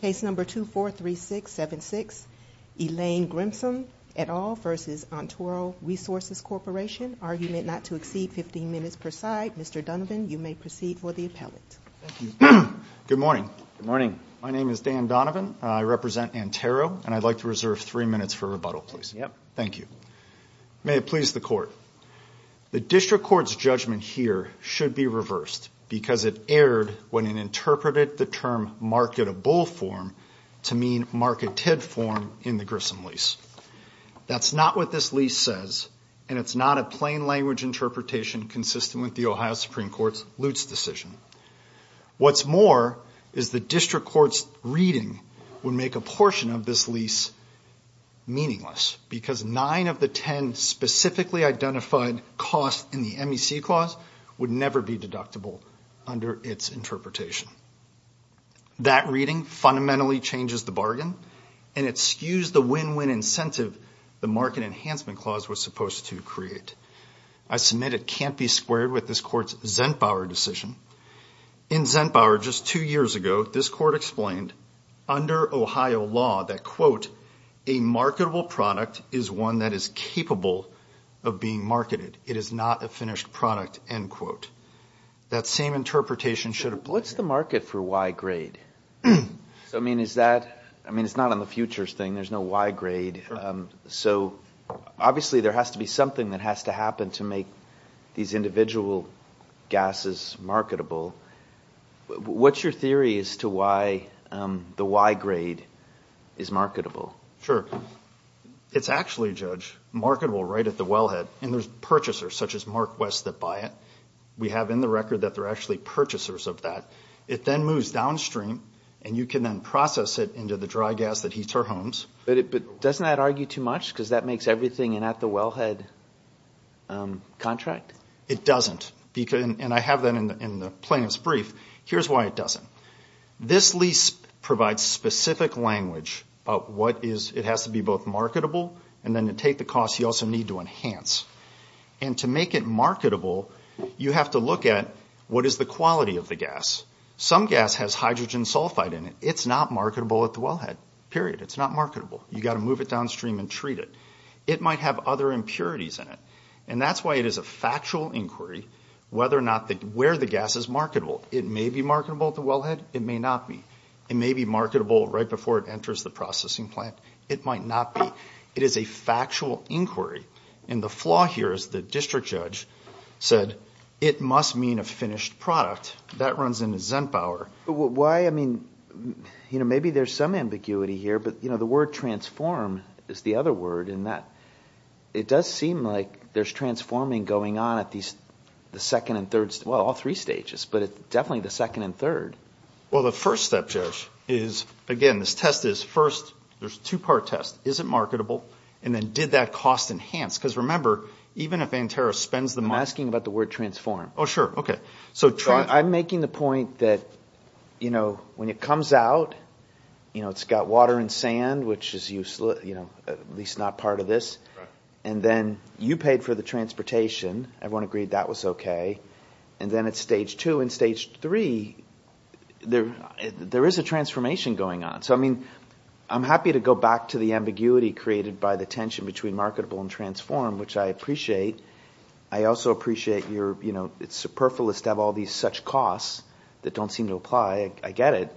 Case number 243676, Elaine Grissom et al. v. Antero Resources Corporation. Argument not to exceed 15 minutes per side. Mr. Donovan, you may proceed for the appellate. Good morning. My name is Dan Donovan. I represent Antero, and I'd like to reserve three minutes for rebuttal, please. Thank you. May it please the Court. The District Court's judgment here should be reversed because it erred when it interpreted the term marketable form to mean marketed form in the Grissom lease. That's not what this lease says, and it's not a plain language interpretation consistent with the Ohio Supreme Court's Lutz decision. What's more is the District Court's reading would make a portion of this lease meaningless because nine of the 10 specifically identified costs in the MEC clause would never be deductible under its interpretation. That reading fundamentally changes the bargain, and it skews the win-win incentive the market enhancement clause was supposed to create. I submit it can't be squared with this Court's Zentbauer decision. In Zentbauer just two years ago, this Court explained under Ohio law that, quote, a marketable product is one that is capable of being marketed. It is not a finished product, end quote. That same interpretation should have What's the market for Y-grade? I mean, it's not on the futures thing. There's no Y-grade. So obviously there has to be something that has to happen to make these individual gases marketable. What's your theory as to why the Y-grade is marketable? Sure. It's actually, Judge, marketable right at the wellhead, and there's purchasers such as Mark West that buy it. We have in the record that they're actually purchasers of that. It then moves downstream, and you can then process it into the dry gas that heats our homes. But doesn't that argue too much because that makes everything in at the wellhead contract? It doesn't, and I have that in the plaintiff's brief. Here's why it doesn't. This lease provides specific language about what is, it has to be both marketable, and then to take the cost, you also need to enhance. And to make it marketable, you have to look at what is the quality of the gas. Some gas has hydrogen sulfide in it. It's not marketable at the wellhead, period. It's not marketable. You've got to move it downstream and treat it. It might have other impurities in it, and that's why it is a factual inquiry whether or not, where the gas is marketable. It may be marketable at the wellhead. It may not be. It may be marketable right before it enters the processing plant. It might not be. It is a factual inquiry, and the flaw here is the district judge said, it must mean a finished product. That runs into Zentbauer. Why? I mean, maybe there's some ambiguity here, but the word transform is the other word in that it does seem like there's transforming going on at the second and third, well, all three stages, but it's definitely the second and third. Well, the first step, Josh, is again, this test is first, there's a two-part test. Is it marketable? And then did that cost enhance? Because remember, even if Antero spends the money- I'm asking about the word transform. Oh, sure. Okay. So I'm making the point that when it comes out, it's got water and sand, which is at least not part of this. And then you paid for the transportation. Everyone agreed that was okay. And then at stage two and stage three, there is a transformation going on. So I'm happy to go back to the ambiguity created by the tension between marketable and transform, which I appreciate. I also appreciate it's superfluous to have all these such costs that don't seem to apply. I get it.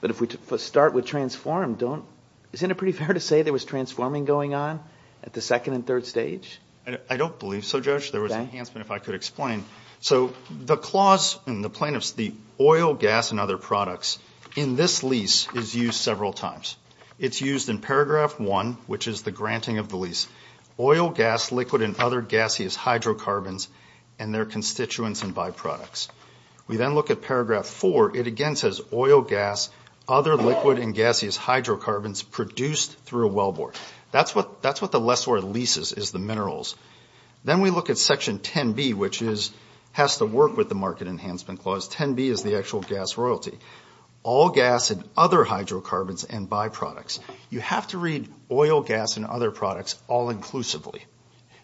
But if we start with transform, isn't it pretty fair to say there was transforming going on at the second and third stage? I don't believe so, Josh. There was enhancement, if I could explain. So the clause in the plaintiff's- the oil, gas, and other products in this lease is used several times. It's used in paragraph one, which is the granting of the lease. Oil, gas, liquid, and other gaseous hydrocarbons and their constituents and byproducts. We then look at paragraph four. It again says oil, gas, other liquid, and gaseous hydrocarbons produced through a wellboard. That's what the lessor of leases is, the minerals. Then we look at section 10B, which is- has to work with the market enhancement clause. 10B is the actual gas royalty. All gas and other hydrocarbons and byproducts. You have to read oil, gas, and other products all inclusively.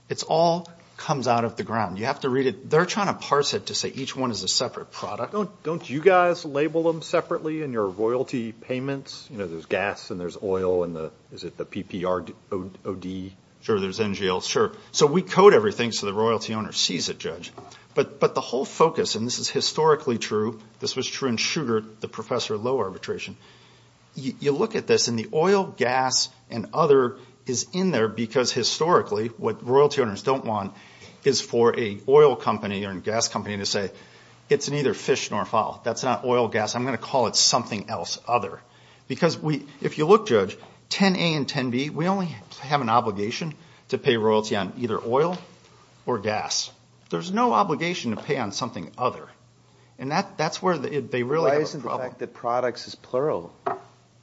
It all comes out of the ground. You have to read it- they're trying to parse it to say each one is a separate product. Don't you guys label them separately in your royalty payments? There's gas and there's oil and the- is it the PPROD? Sure, there's NGL. Sure. We code everything so the royalty owner sees it, Judge. The whole focus, and this is historically true, this was true in Sugar, the Professor of Low Arbitration. You look at this and the oil, gas, and other is in there because historically what royalty owners don't want is for a oil company or a gas company to say it's neither fish nor fowl. That's not oil, gas. I'm going to call it something else, other. Because if you look, Judge, 10A and 10B, we only have an obligation to pay royalty on either oil or gas. There's no obligation to pay on something other. And that's where they really- Why isn't the fact that products is plural? I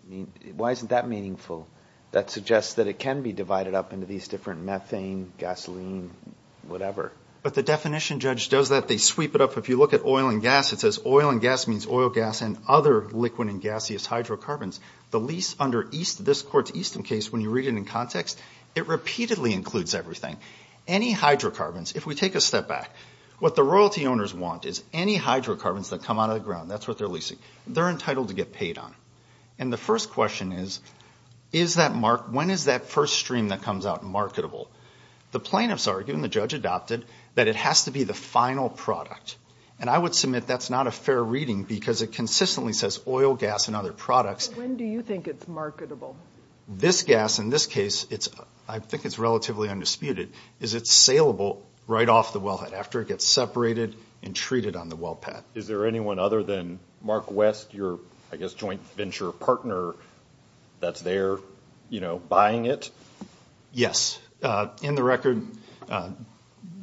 mean, why isn't that meaningful? That suggests that it can be divided up into these different methane, gasoline, whatever. But the definition, Judge, does that. They sweep it up. If you look at oil and gas, it says oil and gas means oil, gas, and other liquid and gaseous hydrocarbons. The lease under this court's Easton case, when you read it in context, it repeatedly includes everything. Any hydrocarbons, if we take a step back, what the royalty owners want is any hydrocarbons that come out of the ground, that's what they're leasing, they're entitled to get paid on. And the first question is, when is that first stream that comes out marketable? The plaintiffs argue, and the Judge adopted, that it has to be the final product. And I would submit that's not a fair reading because it consistently says oil, gas, and other products. When do you think it's marketable? This gas, in this case, I think it's relatively undisputed, is it's saleable right off the wellhead after it gets separated and treated on the well pad. Is there anyone other than Mark West, your, I guess, joint venture partner that's there, you know, buying it? Yes. In the record,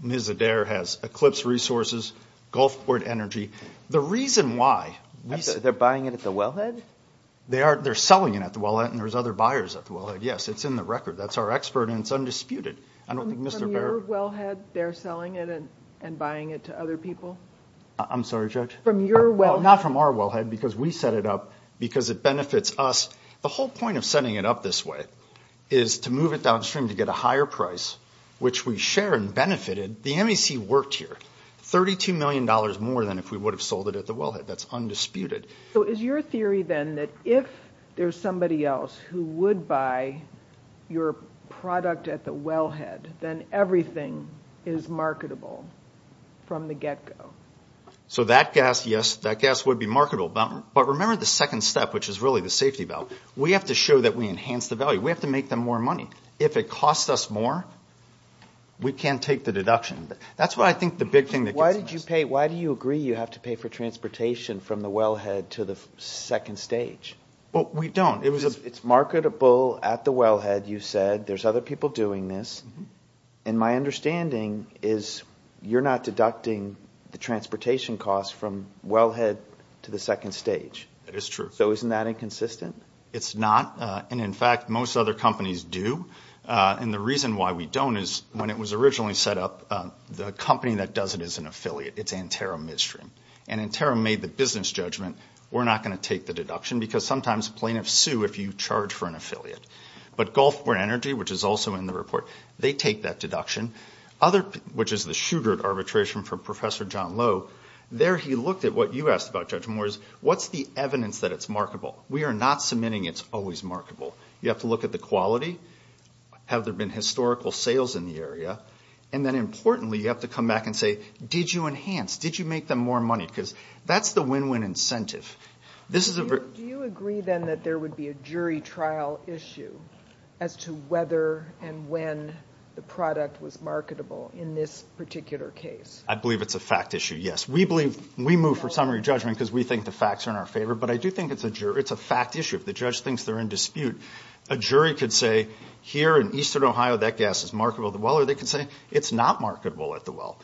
Ms. Adair has Eclipse Resources, Gulfport Energy. The reason why... They're buying it at the wellhead? They're selling it at the wellhead, and there's other buyers at the wellhead. Yes, it's in the record. That's our expert, and it's undisputed. I don't think Mr. Barrett... From your wellhead, they're selling it and buying it to other people? I'm sorry, Judge? From your wellhead. Not from our wellhead, because we set it up, because it benefits us. The whole point of moving it downstream to get a higher price, which we share and benefited, the MEC worked here. $32 million more than if we would have sold it at the wellhead. That's undisputed. So is your theory, then, that if there's somebody else who would buy your product at the wellhead, then everything is marketable from the get-go? So that gas, yes, that gas would be marketable. But remember the second step, which is really the safety valve. We have to show that we enhance the value. We have to make them more money. If it costs us more, we can't take the deduction. That's what I think the big thing that... Why do you agree you have to pay for transportation from the wellhead to the second stage? Well, we don't. It was... It's marketable at the wellhead, you said. There's other people doing this. And my understanding is you're not deducting the transportation cost from wellhead to the second stage. That is true. So isn't that inconsistent? It's not. And in fact, most other companies do. And the reason why we don't is when it was originally set up, the company that does it is an affiliate. It's Antero Midstream. And Antero made the business judgment, we're not going to take the deduction, because sometimes plaintiffs sue if you charge for an affiliate. But Gulfport Energy, which is also in the report, they take that deduction. Which is the Shugart arbitration from Professor John Lowe. There he looked at what you asked about judgment, what's the evidence that it's marketable? We are not submitting it's always marketable. You have to look at the quality. Have there been historical sales in the area? And then importantly, you have to come back and say, did you enhance? Did you make them more money? Because that's the win-win incentive. Do you agree then that there would be a jury trial issue as to whether and when the product was marketable in this particular case? I believe it's a fact issue, yes. We move for summary judgment because we think the facts are in our favor. But I do think it's a fact issue. If the judge thinks they're in dispute, a jury could say, here in Eastern Ohio, that gas is marketable at the well. Or they could say, it's not marketable at the well.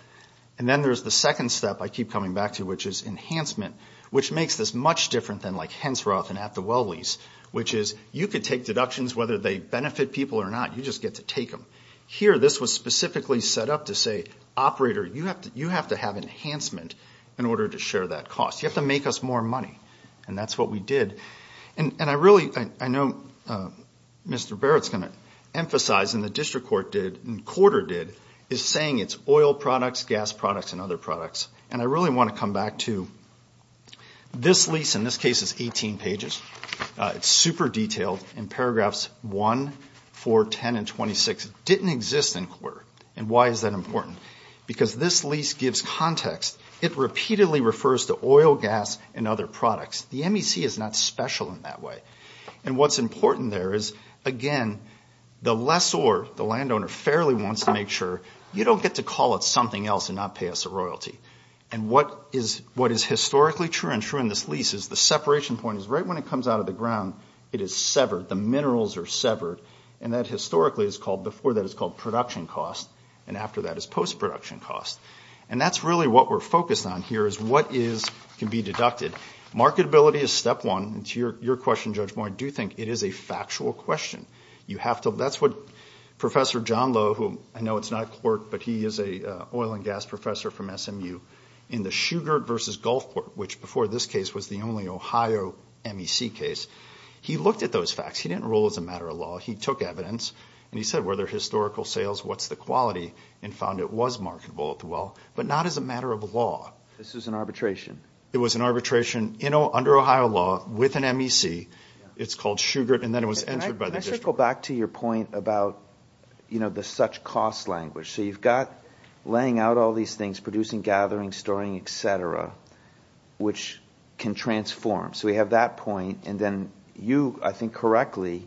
And then there's the second step I keep coming back to, which is enhancement. Which makes this much different than like Hensroth and at the well lease. Which is, you could take deductions whether they benefit people or not. You just get to take them. Here, this was specifically set up to say, operator, you have to have enhancement in order to share that cost. You have to make us more money. And that's what we did. And I really, I know Mr. Barrett's going to emphasize, and the district court did, and quarter did, is saying it's oil products, gas products, and other products. And I really want to come back to this lease. In this case, it's 18 pages. It's super detailed. In paragraphs 1, 4, 10, and 26. It didn't exist in quarter. And why is that important? Because this lease gives context. It repeatedly refers to oil, gas, and other products. The MEC is not special in that way. And what's important there is, again, the lessor, the landowner, fairly wants to make sure you don't get to call it something else and not pay us a royalty. And what is historically true and true in this lease is, the separation point is right when it comes out of the ground, it is severed. The minerals are severed. And that historically is called, before that is called production cost. And after that is post-production cost. And that's really what we're focused on here, is what can be deducted. Marketability is step one. And to your question, Judge Moore, I do think it is a factual question. You have to, that's what Professor John Lowe, who I know it's not a court, but he is a oil and gas professor from SMU, in the Shugart versus Gulfport, which before this case was the only Ohio MEC case. He looked at those facts. He didn't rule as a matter of law. He took evidence and he said, were there historical sales? What's the quality? And found it was marketable at the well, but not as a matter of law. This is an arbitration. It was an arbitration under Ohio law with an MEC. It's called Shugart. And then it was entered by the district. Can I just go back to your point about, you know, the such cost language. So you've got laying out all these things, producing, gathering, storing, et cetera, which can transform. So we have that point. And then you, I think correctly,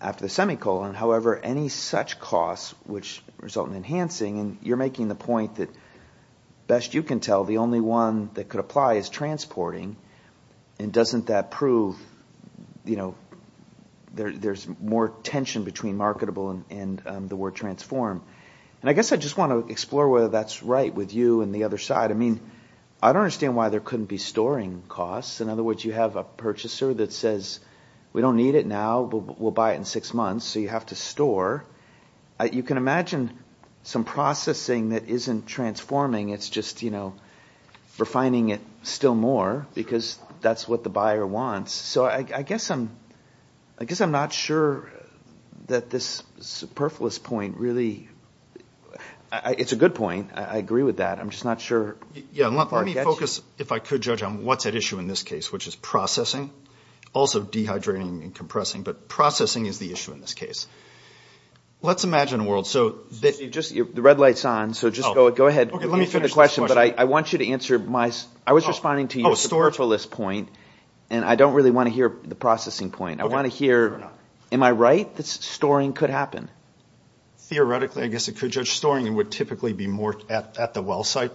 after the semicolon, however, any such costs which result in enhancing, and you're making the point that best you can tell, the only one that could apply is transporting. And doesn't that prove, you know, there's more tension between marketable and the word transform. And I guess I just want to explore whether that's right with you and the other side. I mean, I don't understand why there couldn't be storing costs. In other words, you have a purchaser that says, we don't need it now. We'll buy it in six months. So you have to store. You can imagine some processing that isn't transforming. It's just, you know, refining it still more because that's what the buyer wants. So I guess I'm not sure that this superfluous point really, it's a good point. I agree with that. I'm just not sure. Yeah, let me focus, if I could judge on what's at issue in this case, which is processing, also dehydrating and compressing, but processing is the issue in this case. Let's imagine a world. So just, the red light's on. So just go ahead. Okay, let me finish this question. But I want you to answer my, I was responding to your superfluous point. And I don't really want to hear the processing point. I want to hear, am I right? That storing could happen? Theoretically, I guess it could, Judge. Storing would typically be more at the well site.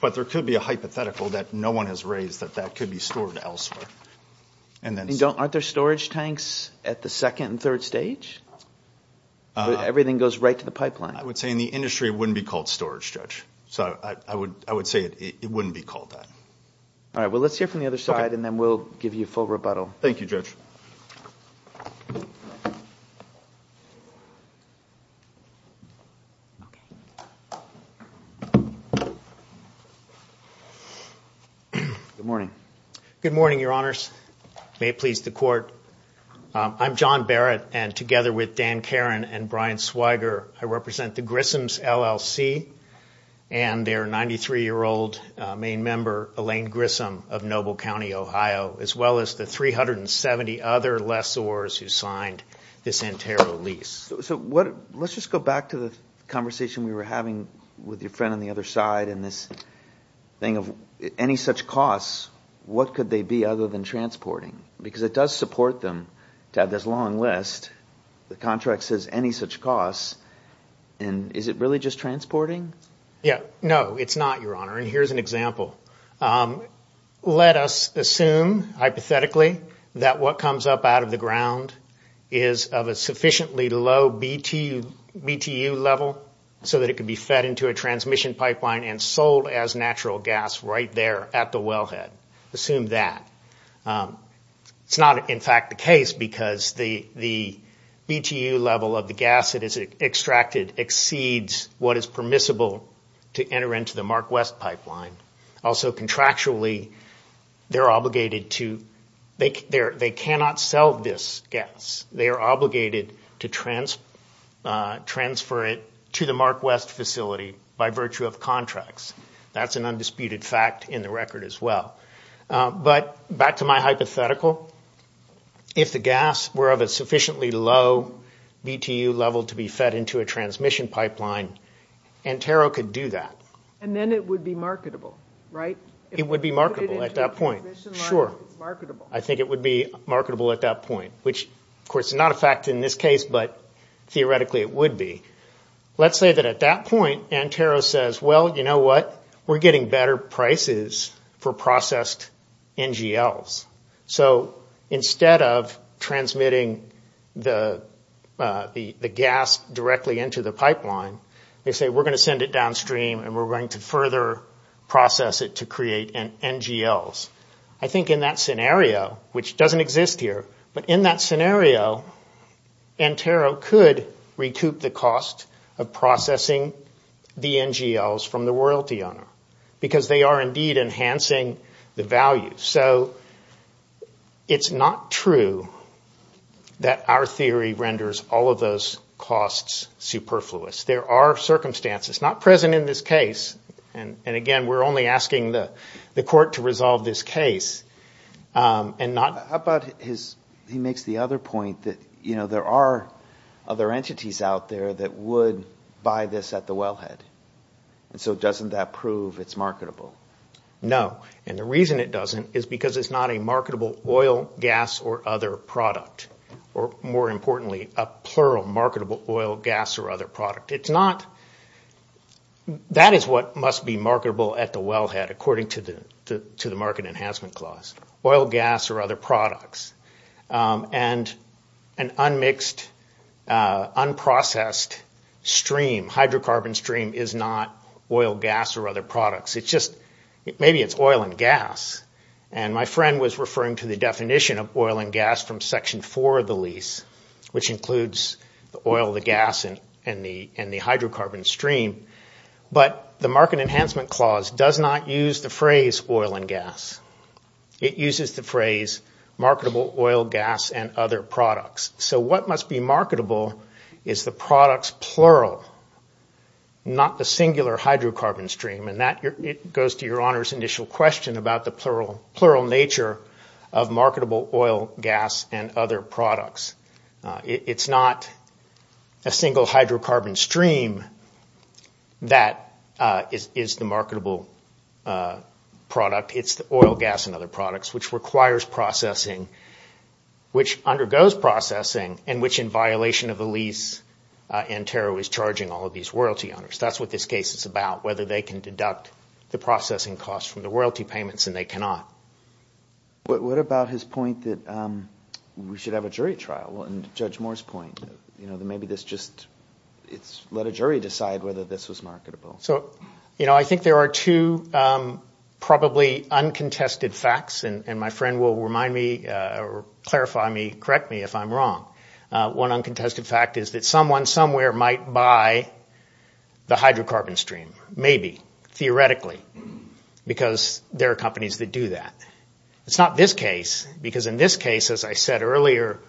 But there could be a hypothetical that no one has raised that that could be stored elsewhere. And then- Aren't there storage tanks at the second and third stage? Everything goes right to the pipeline. I would say in the industry, it wouldn't be called storage, Judge. So I would say it wouldn't be called that. All right, well, let's hear from the other side and then we'll give you full rebuttal. Thank you, Judge. Good morning. Good morning, Your Honors. May it please the Court. I'm John Barrett. And together with Dan Karen and Brian Swiger, I represent the Grissoms LLC and their 93-year-old main member, Elaine Grissom of Noble County, Ohio, as well as the 370 other lessors who signed this NTERO lease. So let's just go back to the conversation we were having with your friend on the other side and this thing of any such costs, what could they be other than transporting? Because it does support them to have this long list. The contract says any such costs. And is it really just transporting? Yeah, no, it's not, Your Honor. And here's an example. Let us assume, hypothetically, that what comes up out of the ground is of a sufficiently low BTU level so that it could be fed into a transmission pipeline and sold as natural gas right there at the wellhead. Assume that. It's not, in fact, the case because the BTU level of the gas that is extracted exceeds what is permissible to enter into the MarkWest pipeline. Also, contractually, they're obligated to... They cannot sell this gas. They are obligated to transfer it to the MarkWest facility by virtue of contracts. That's an undisputed fact in the record as well. But back to my hypothetical, if the gas were of a sufficiently low BTU level to be fed into a transmission pipeline, Antero could do that. And then it would be marketable, right? It would be marketable at that point. Sure, I think it would be marketable at that point, which, of course, is not a fact in this case, but theoretically it would be. Let's say that at that point, Antero says, well, you know what? We're getting better prices for processed NGLs. So instead of transmitting the gas directly into the pipeline, they say, we're going to send it downstream and we're going to further process it to create NGLs. I think in that scenario, which doesn't exist here, but in that scenario, Antero could recoup the cost of processing the NGLs from the royalty owner because they are indeed enhancing the value. So it's not true that our theory renders all of those costs superfluous. There are circumstances, not present in this case. And again, we're only asking the court to resolve this case and not... He makes the other point that, you know, there are other entities out there that would buy this at the wellhead. And so doesn't that prove it's marketable? No. And the reason it doesn't is because it's not a marketable oil, gas or other product, or more importantly, a plural marketable oil, gas or other product. It's not... That is what must be marketable at the wellhead according to the market enhancement clause, oil, gas or other products. And an unmixed, unprocessed stream, hydrocarbon stream is not oil, gas or other products. It's just, maybe it's oil and gas. And my friend was referring to the definition of oil and gas from section four of the lease, which includes the oil, the gas and the hydrocarbon stream. But the market enhancement clause does not use the phrase oil and gas. It uses the phrase marketable oil, gas and other products. So what must be marketable is the products plural, not the singular hydrocarbon stream. And that goes to your honor's initial question about the plural nature of marketable oil, gas and other products. It's not a single hydrocarbon stream that is the marketable product. It's the oil, gas and other products which requires processing, which undergoes processing and which in violation of the lease, Antero is charging all of these royalty owners. That's what this case is about, whether they can deduct the processing costs from the royalty payments and they cannot. What about his point that we should have a jury trial? Well, and Judge Moore's point, maybe this just let a jury decide whether this was marketable. So, you know, I think there are two probably uncontested facts and my friend will remind me or clarify me, correct me if I'm wrong. One uncontested fact is that someone somewhere might buy the hydrocarbon stream, maybe, theoretically, because there are companies that do that. It's not this case, because in this case, as I said earlier,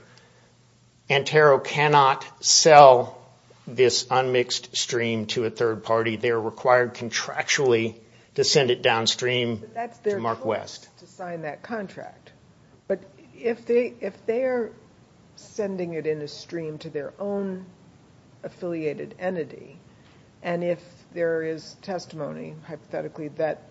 Antero cannot sell this unmixed stream to a third party. They are required contractually to send it downstream to Mark West. But that's their choice to sign that contract. But if they are sending it in a stream to their own affiliated entity and if there is testimony, hypothetically, that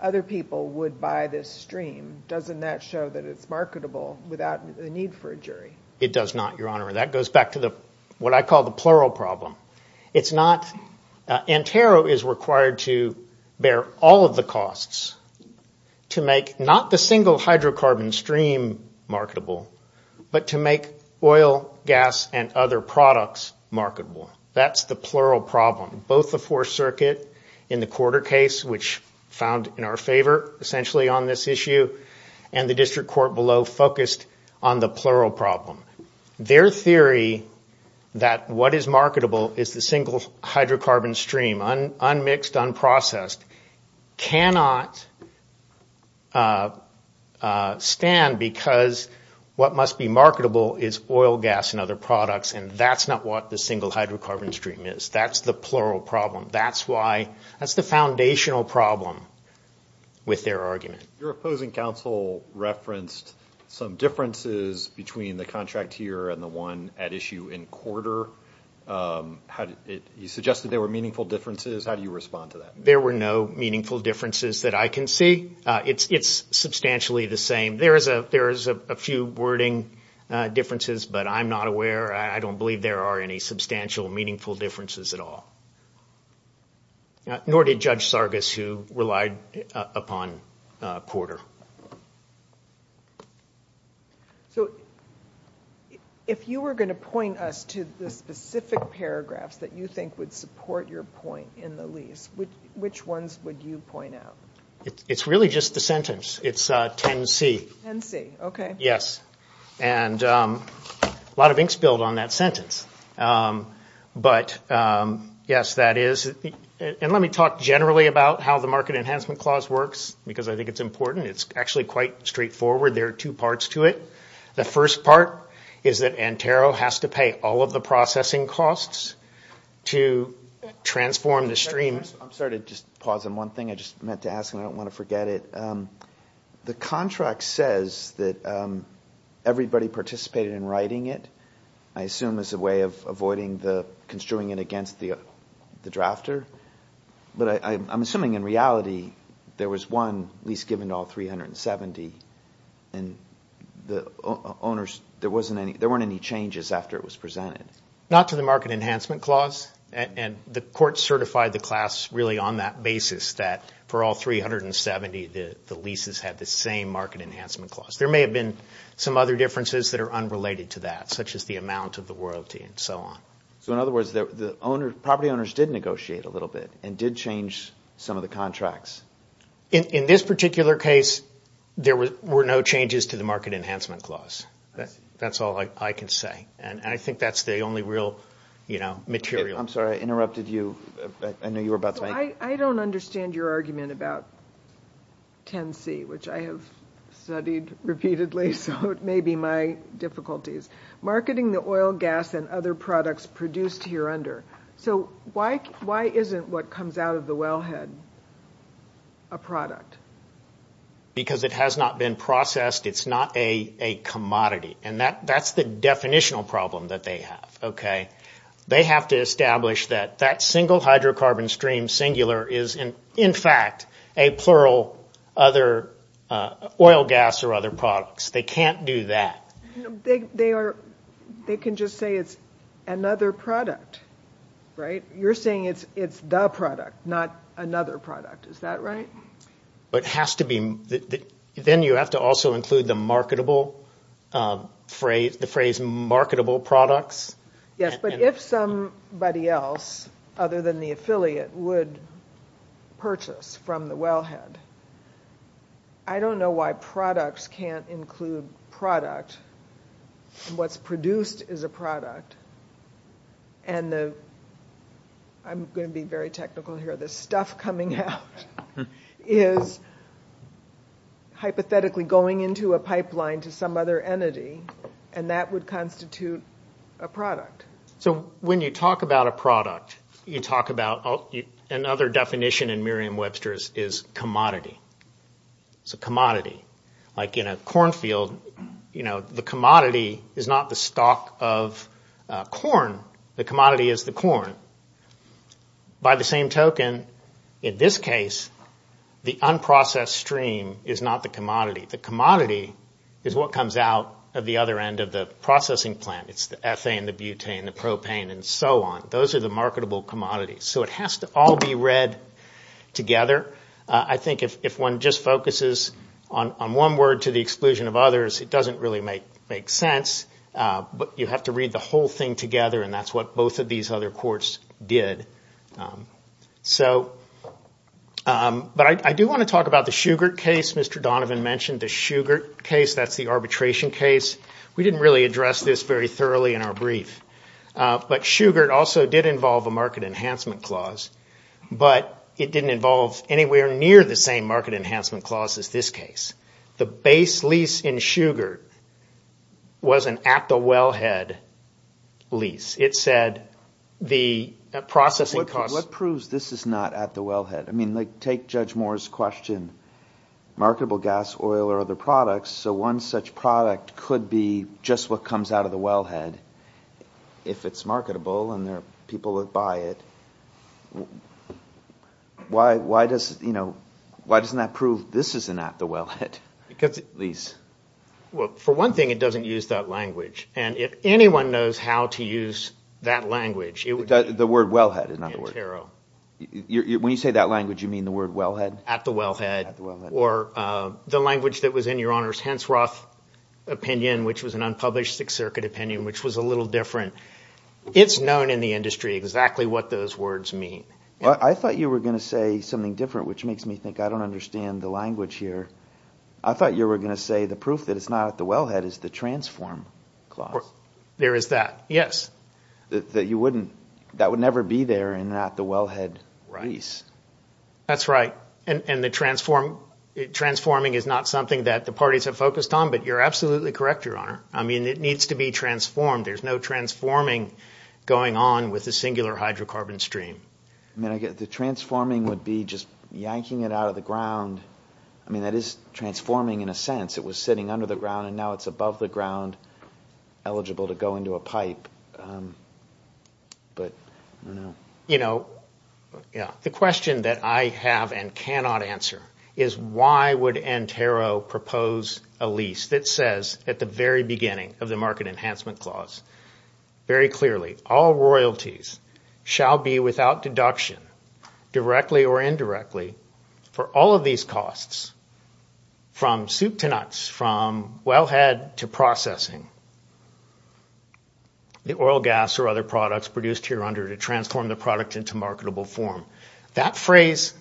other people would buy this stream, doesn't that show that it's marketable without the need for a jury? It does not, Your Honor. That goes back to what I call the plural problem. It's not... Antero is required to bear all of the costs to make not the single hydrocarbon stream marketable, but to make oil, gas, and other products marketable. That's the plural problem. Both the Fourth Circuit in the quarter case, which found in our favor, essentially on this issue, and the district court below focused on the plural problem. Their theory that what is marketable is the single hydrocarbon stream, unmixed, unprocessed, cannot stand because what must be marketable is oil, gas, and other products. And that's not what the single hydrocarbon stream is. That's the plural problem. That's why... That's the foundational problem with their argument. Your opposing counsel referenced some differences between the contract here and the one at issue in quarter. You suggested there were meaningful differences. How do you respond to that? There were no meaningful differences that I can see. It's substantially the same. There's a few wording differences, but I'm not aware. I don't believe there are any substantial, meaningful differences at all. Nor did Judge Sargas who relied upon quarter. So if you were going to point us to the specific paragraphs that you think would support your point in the lease, which ones would you point out? It's really just the sentence. It's 10C. 10C, okay. Yes. And a lot of ink spilled on that sentence. But yes, that is... And let me talk generally about how the market enhancement clause works because I think it's important. It's actually quite straightforward. There are two parts to it. The first part is that Antero has to pay all of the processing costs to transform the stream. I'm sorry to just pause on one thing. I just meant to ask and I don't want to forget it. The contract says that everybody participated in writing it, I assume as a way of avoiding the construing it against the drafter. But I'm assuming in reality, there was one lease given to all 370 and the owners, there weren't any changes after it was presented. Not to the market enhancement clause. And the court certified the class really on that basis that for all 370, the leases had the same market enhancement clause. There may have been some other differences that are unrelated to that, such as the amount of the royalty and so on. So in other words, the property owners did negotiate a little bit and did change some of the contracts. In this particular case, there were no changes to the market enhancement clause. That's all I can say. And I think that's the only real material. I'm sorry, I interrupted you. I know you were about to... I don't understand your argument about 10C, which I have studied repeatedly. So it may be my difficulties. Marketing the oil, gas and other products produced here under. So why isn't what comes out of the wellhead a product? Because it has not been processed. It's not a commodity. And that's the definitional problem that they have, okay? They have to establish that that single hydrocarbon stream singular is in fact a plural other oil, gas or other products. They can't do that. You know, they can just say it's another product, right? You're saying it's the product, not another product. Is that right? But it has to be... Then you have to also include the marketable phrase, the phrase marketable products. Yes, but if somebody else other than the affiliate would purchase from the wellhead, I don't know why products can't include product. What's produced is a product. And I'm going to be very technical here. The stuff coming out is hypothetically going into a pipeline to some other entity. And that would constitute a product. So when you talk about a product, you talk about another definition in Merriam-Webster is commodity. It's a commodity. Like in a cornfield, the commodity is not the stock of corn. The commodity is the corn. By the same token, in this case, the unprocessed stream is not the commodity. The commodity is what comes out of the other end of the processing plant. It's the ethane, the butane, the propane, and so on. Those are the marketable commodities. So it has to all be read together. I think if one just focuses on one word to the exclusion of others, it doesn't really make sense. But you have to read the whole thing together. And that's what both of these other courts did. But I do want to talk about the Shugart case. Mr. Donovan mentioned the Shugart case. That's the arbitration case. We didn't really address this very thoroughly in our brief. But Shugart also did involve a market enhancement clause. But it didn't involve anywhere near the same market enhancement clause as this case. The base lease in Shugart was an at-the-wellhead lease. It said the processing costs... What proves this is not at-the-wellhead? I mean, take Judge Moore's question. Marketable gas, oil, or other products. So one such product could be just what comes out of the wellhead if it's marketable and there are people that buy it. Why doesn't that prove this is an at-the-wellhead lease? Well, for one thing, it doesn't use that language. And if anyone knows how to use that language... The word wellhead is not the word. When you say that language, you mean the word wellhead? At-the-wellhead. Or the language that was in Your Honor's Hensroth opinion, which was an unpublished Sixth Circuit opinion, which was a little different. It's known in the industry exactly what those words mean. I thought you were going to say something different, which makes me think I don't understand the language here. I thought you were going to say the proof that it's not at-the-wellhead is the transform clause. There is that, yes. That would never be there in an at-the-wellhead lease. That's right. Transforming is not something that the parties have focused on, but you're absolutely correct, Your Honor. I mean, it needs to be transformed. There's no transforming going on with a singular hydrocarbon stream. The transforming would be just yanking it out of the ground. I mean, that is transforming in a sense. It was sitting under the ground and now it's above the ground, eligible to go into a pipe. The question that I have and cannot answer is why would Antero propose a lease that says at the very beginning of the market enhancement clause very clearly, all royalties shall be without deduction, directly or indirectly, for all of these costs, from soup to nuts, from wellhead to processing, the oil, gas or other products produced here under to transform the product into marketable form. That phrase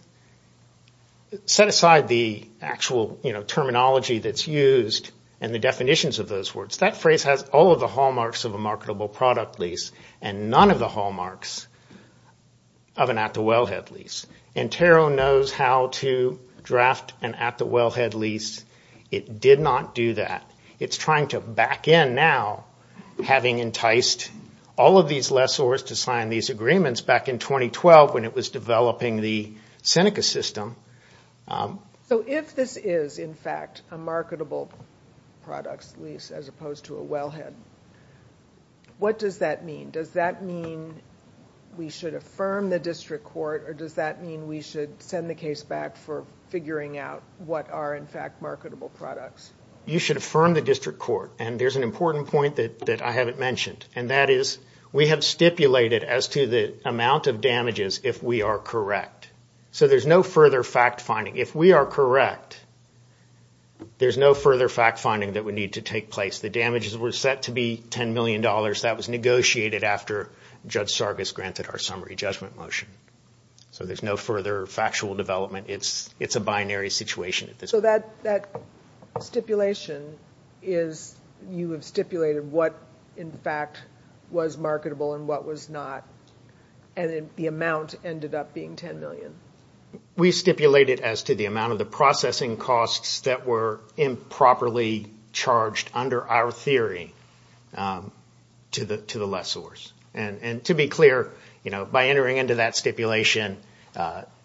set aside the actual terminology that's used and the definitions of those words. That phrase has all of the hallmarks of a marketable product lease and none of the hallmarks of an at-the-wellhead lease. Antero knows how to draft an at-the-wellhead lease. It did not do that. It's trying to back in now, having enticed all of these lessors to sign these agreements back in 2012 when it was developing the Seneca system. So if this is, in fact, a marketable products lease as opposed to a wellhead, what does that mean? Does that mean we should affirm the district court or does that mean we should send the case back for figuring out what are, in fact, marketable products? You should affirm the district court and there's an important point that I haven't mentioned and that is we have stipulated as to the amount of damages if we are correct. So there's no further fact finding. If we are correct, there's no further fact finding that would need to take place. The damages were set to be $10 million. That was negotiated after Judge Sargas granted our summary judgment motion. So there's no further factual development. It's a binary situation. So that stipulation is you have stipulated what, in fact, was marketable and what was not and the amount ended up being $10 million. We stipulated as to the amount of the processing costs that were improperly charged under our theory to the lessors. And to be clear, by entering into that stipulation,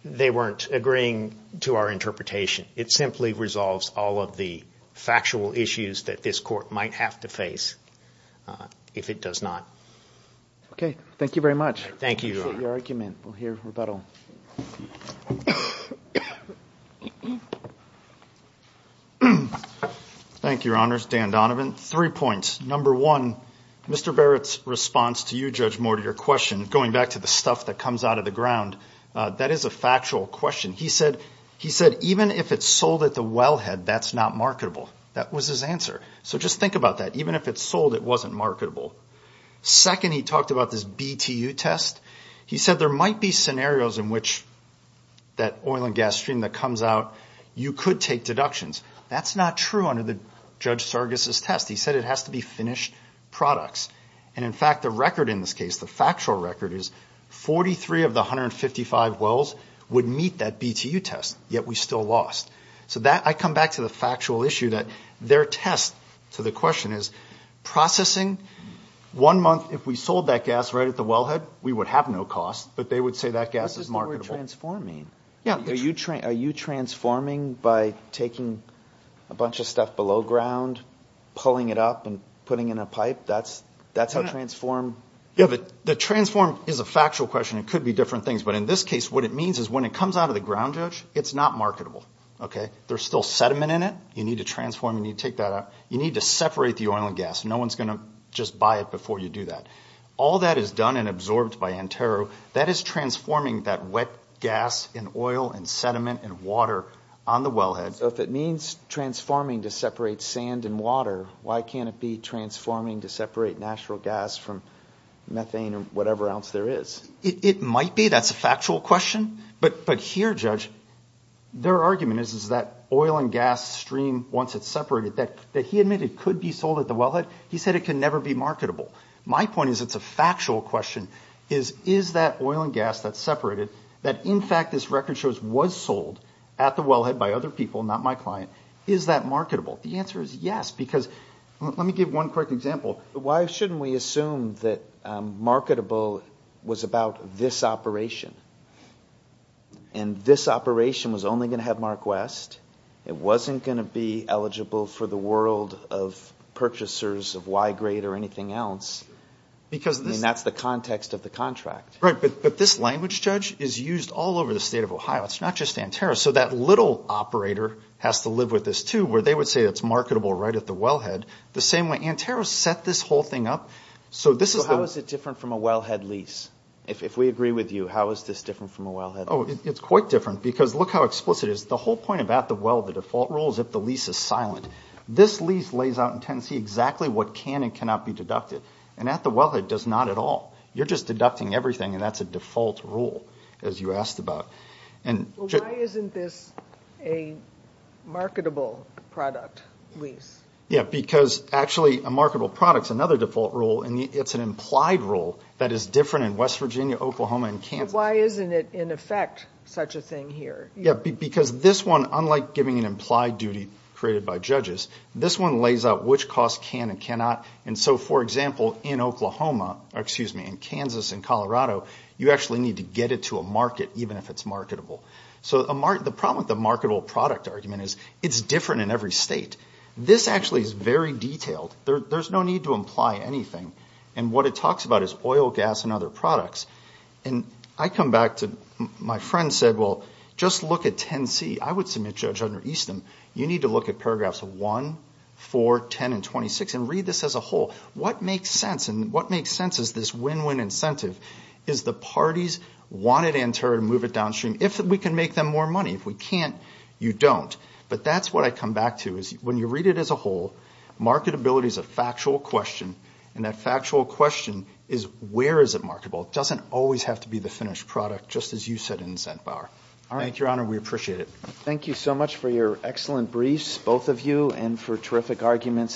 they weren't agreeing to our interpretation. It simply resolves all of the factual issues that this court might have to face if it does not. Okay, thank you very much. Thank you. Appreciate your argument. We'll hear rebuttal. Thank you, Your Honors. Dan Donovan. Three points. Number one, Mr. Barrett's response to you, Judge Moore, to your question, going back to the stuff that comes out of the ground, that is a factual question. He said, even if it's sold at the wellhead, that's not marketable. That was his answer. So just think about that. Even if it's sold, it wasn't marketable. Second, he talked about this BTU test. He said there might be scenarios in which that oil and gas stream that comes out, you could take deductions. That's not true under Judge Sargas' test. He said it has to be finished products. And in fact, the record in this case, the factual record, 43 of the 155 wells would meet that BTU test, yet we still lost. So I come back to the factual issue that their test to the question is processing. One month, if we sold that gas right at the wellhead, we would have no cost. But they would say that gas is marketable. That's just the way of transforming. Yeah. Are you transforming by taking a bunch of stuff below ground, pulling it up, and putting in a pipe? That's how transform... The transform is a factual question. It could be different things. But in this case, what it means is when it comes out of the ground, Judge, it's not marketable. Okay. There's still sediment in it. You need to transform. You need to take that out. You need to separate the oil and gas. No one's going to just buy it before you do that. All that is done and absorbed by Antero. That is transforming that wet gas and oil and sediment and water on the wellhead. So if it means transforming to separate sand and water, why can't it be transforming to separate natural gas from methane or whatever else there is? It might be. That's a factual question. But here, Judge, their argument is that oil and gas stream, once it's separated, that he admitted could be sold at the wellhead, he said it can never be marketable. My point is it's a factual question. Is that oil and gas that's separated, that in fact, this record shows was sold at the wellhead by other people, not my client, is that marketable? The answer is yes. Because let me give one quick example. Why shouldn't we assume that marketable was about this operation? And this operation was only going to have Mark West. It wasn't going to be eligible for the world of purchasers of Y-grade or anything else. Because that's the context of the contract. Right. But this language, Judge, is used all over the state of Ohio. It's not just Antero. So that little operator has to live with this too, where they would say it's marketable right at the wellhead. The same way, Antero set this whole thing up. So how is it different from a wellhead lease? If we agree with you, how is this different from a wellhead? Oh, it's quite different because look how explicit it is. The whole point about the well, the default rule, is if the lease is silent. This lease lays out in Tennessee exactly what can and cannot be deducted. And at the wellhead, it does not at all. You're just deducting everything. And that's a default rule, as you asked about. Well, why isn't this a marketable product lease? Yeah, because actually, a marketable product is another default rule. And it's an implied rule that is different in West Virginia, Oklahoma, and Kansas. Why isn't it in effect such a thing here? Yeah, because this one, unlike giving an implied duty created by judges, this one lays out which costs can and cannot. And so, for example, in Oklahoma, or excuse me, in Kansas, in Colorado, you actually need to get it to a market, even if it's marketable. So the problem with the marketable product argument is it's different in every state. This actually is very detailed. There's no need to imply anything. And what it talks about is oil, gas, and other products. And I come back to, my friend said, well, just look at 10C. I would submit judge under Easton, you need to look at paragraphs of 1, 4, 10, and 26, and read this as a whole. What makes sense, and what makes sense is this win-win incentive is the parties wanted to enter and move it downstream. If we can make them more money. If we can't, you don't. But that's what I come back to when you read it as a whole, marketability is a factual question. And that factual question is, where is it marketable? It doesn't always have to be the finished product, just as you said in Zentbauer. Thank you, Your Honor. We appreciate it. Thank you so much for your excellent briefs, both of you, and for terrific arguments.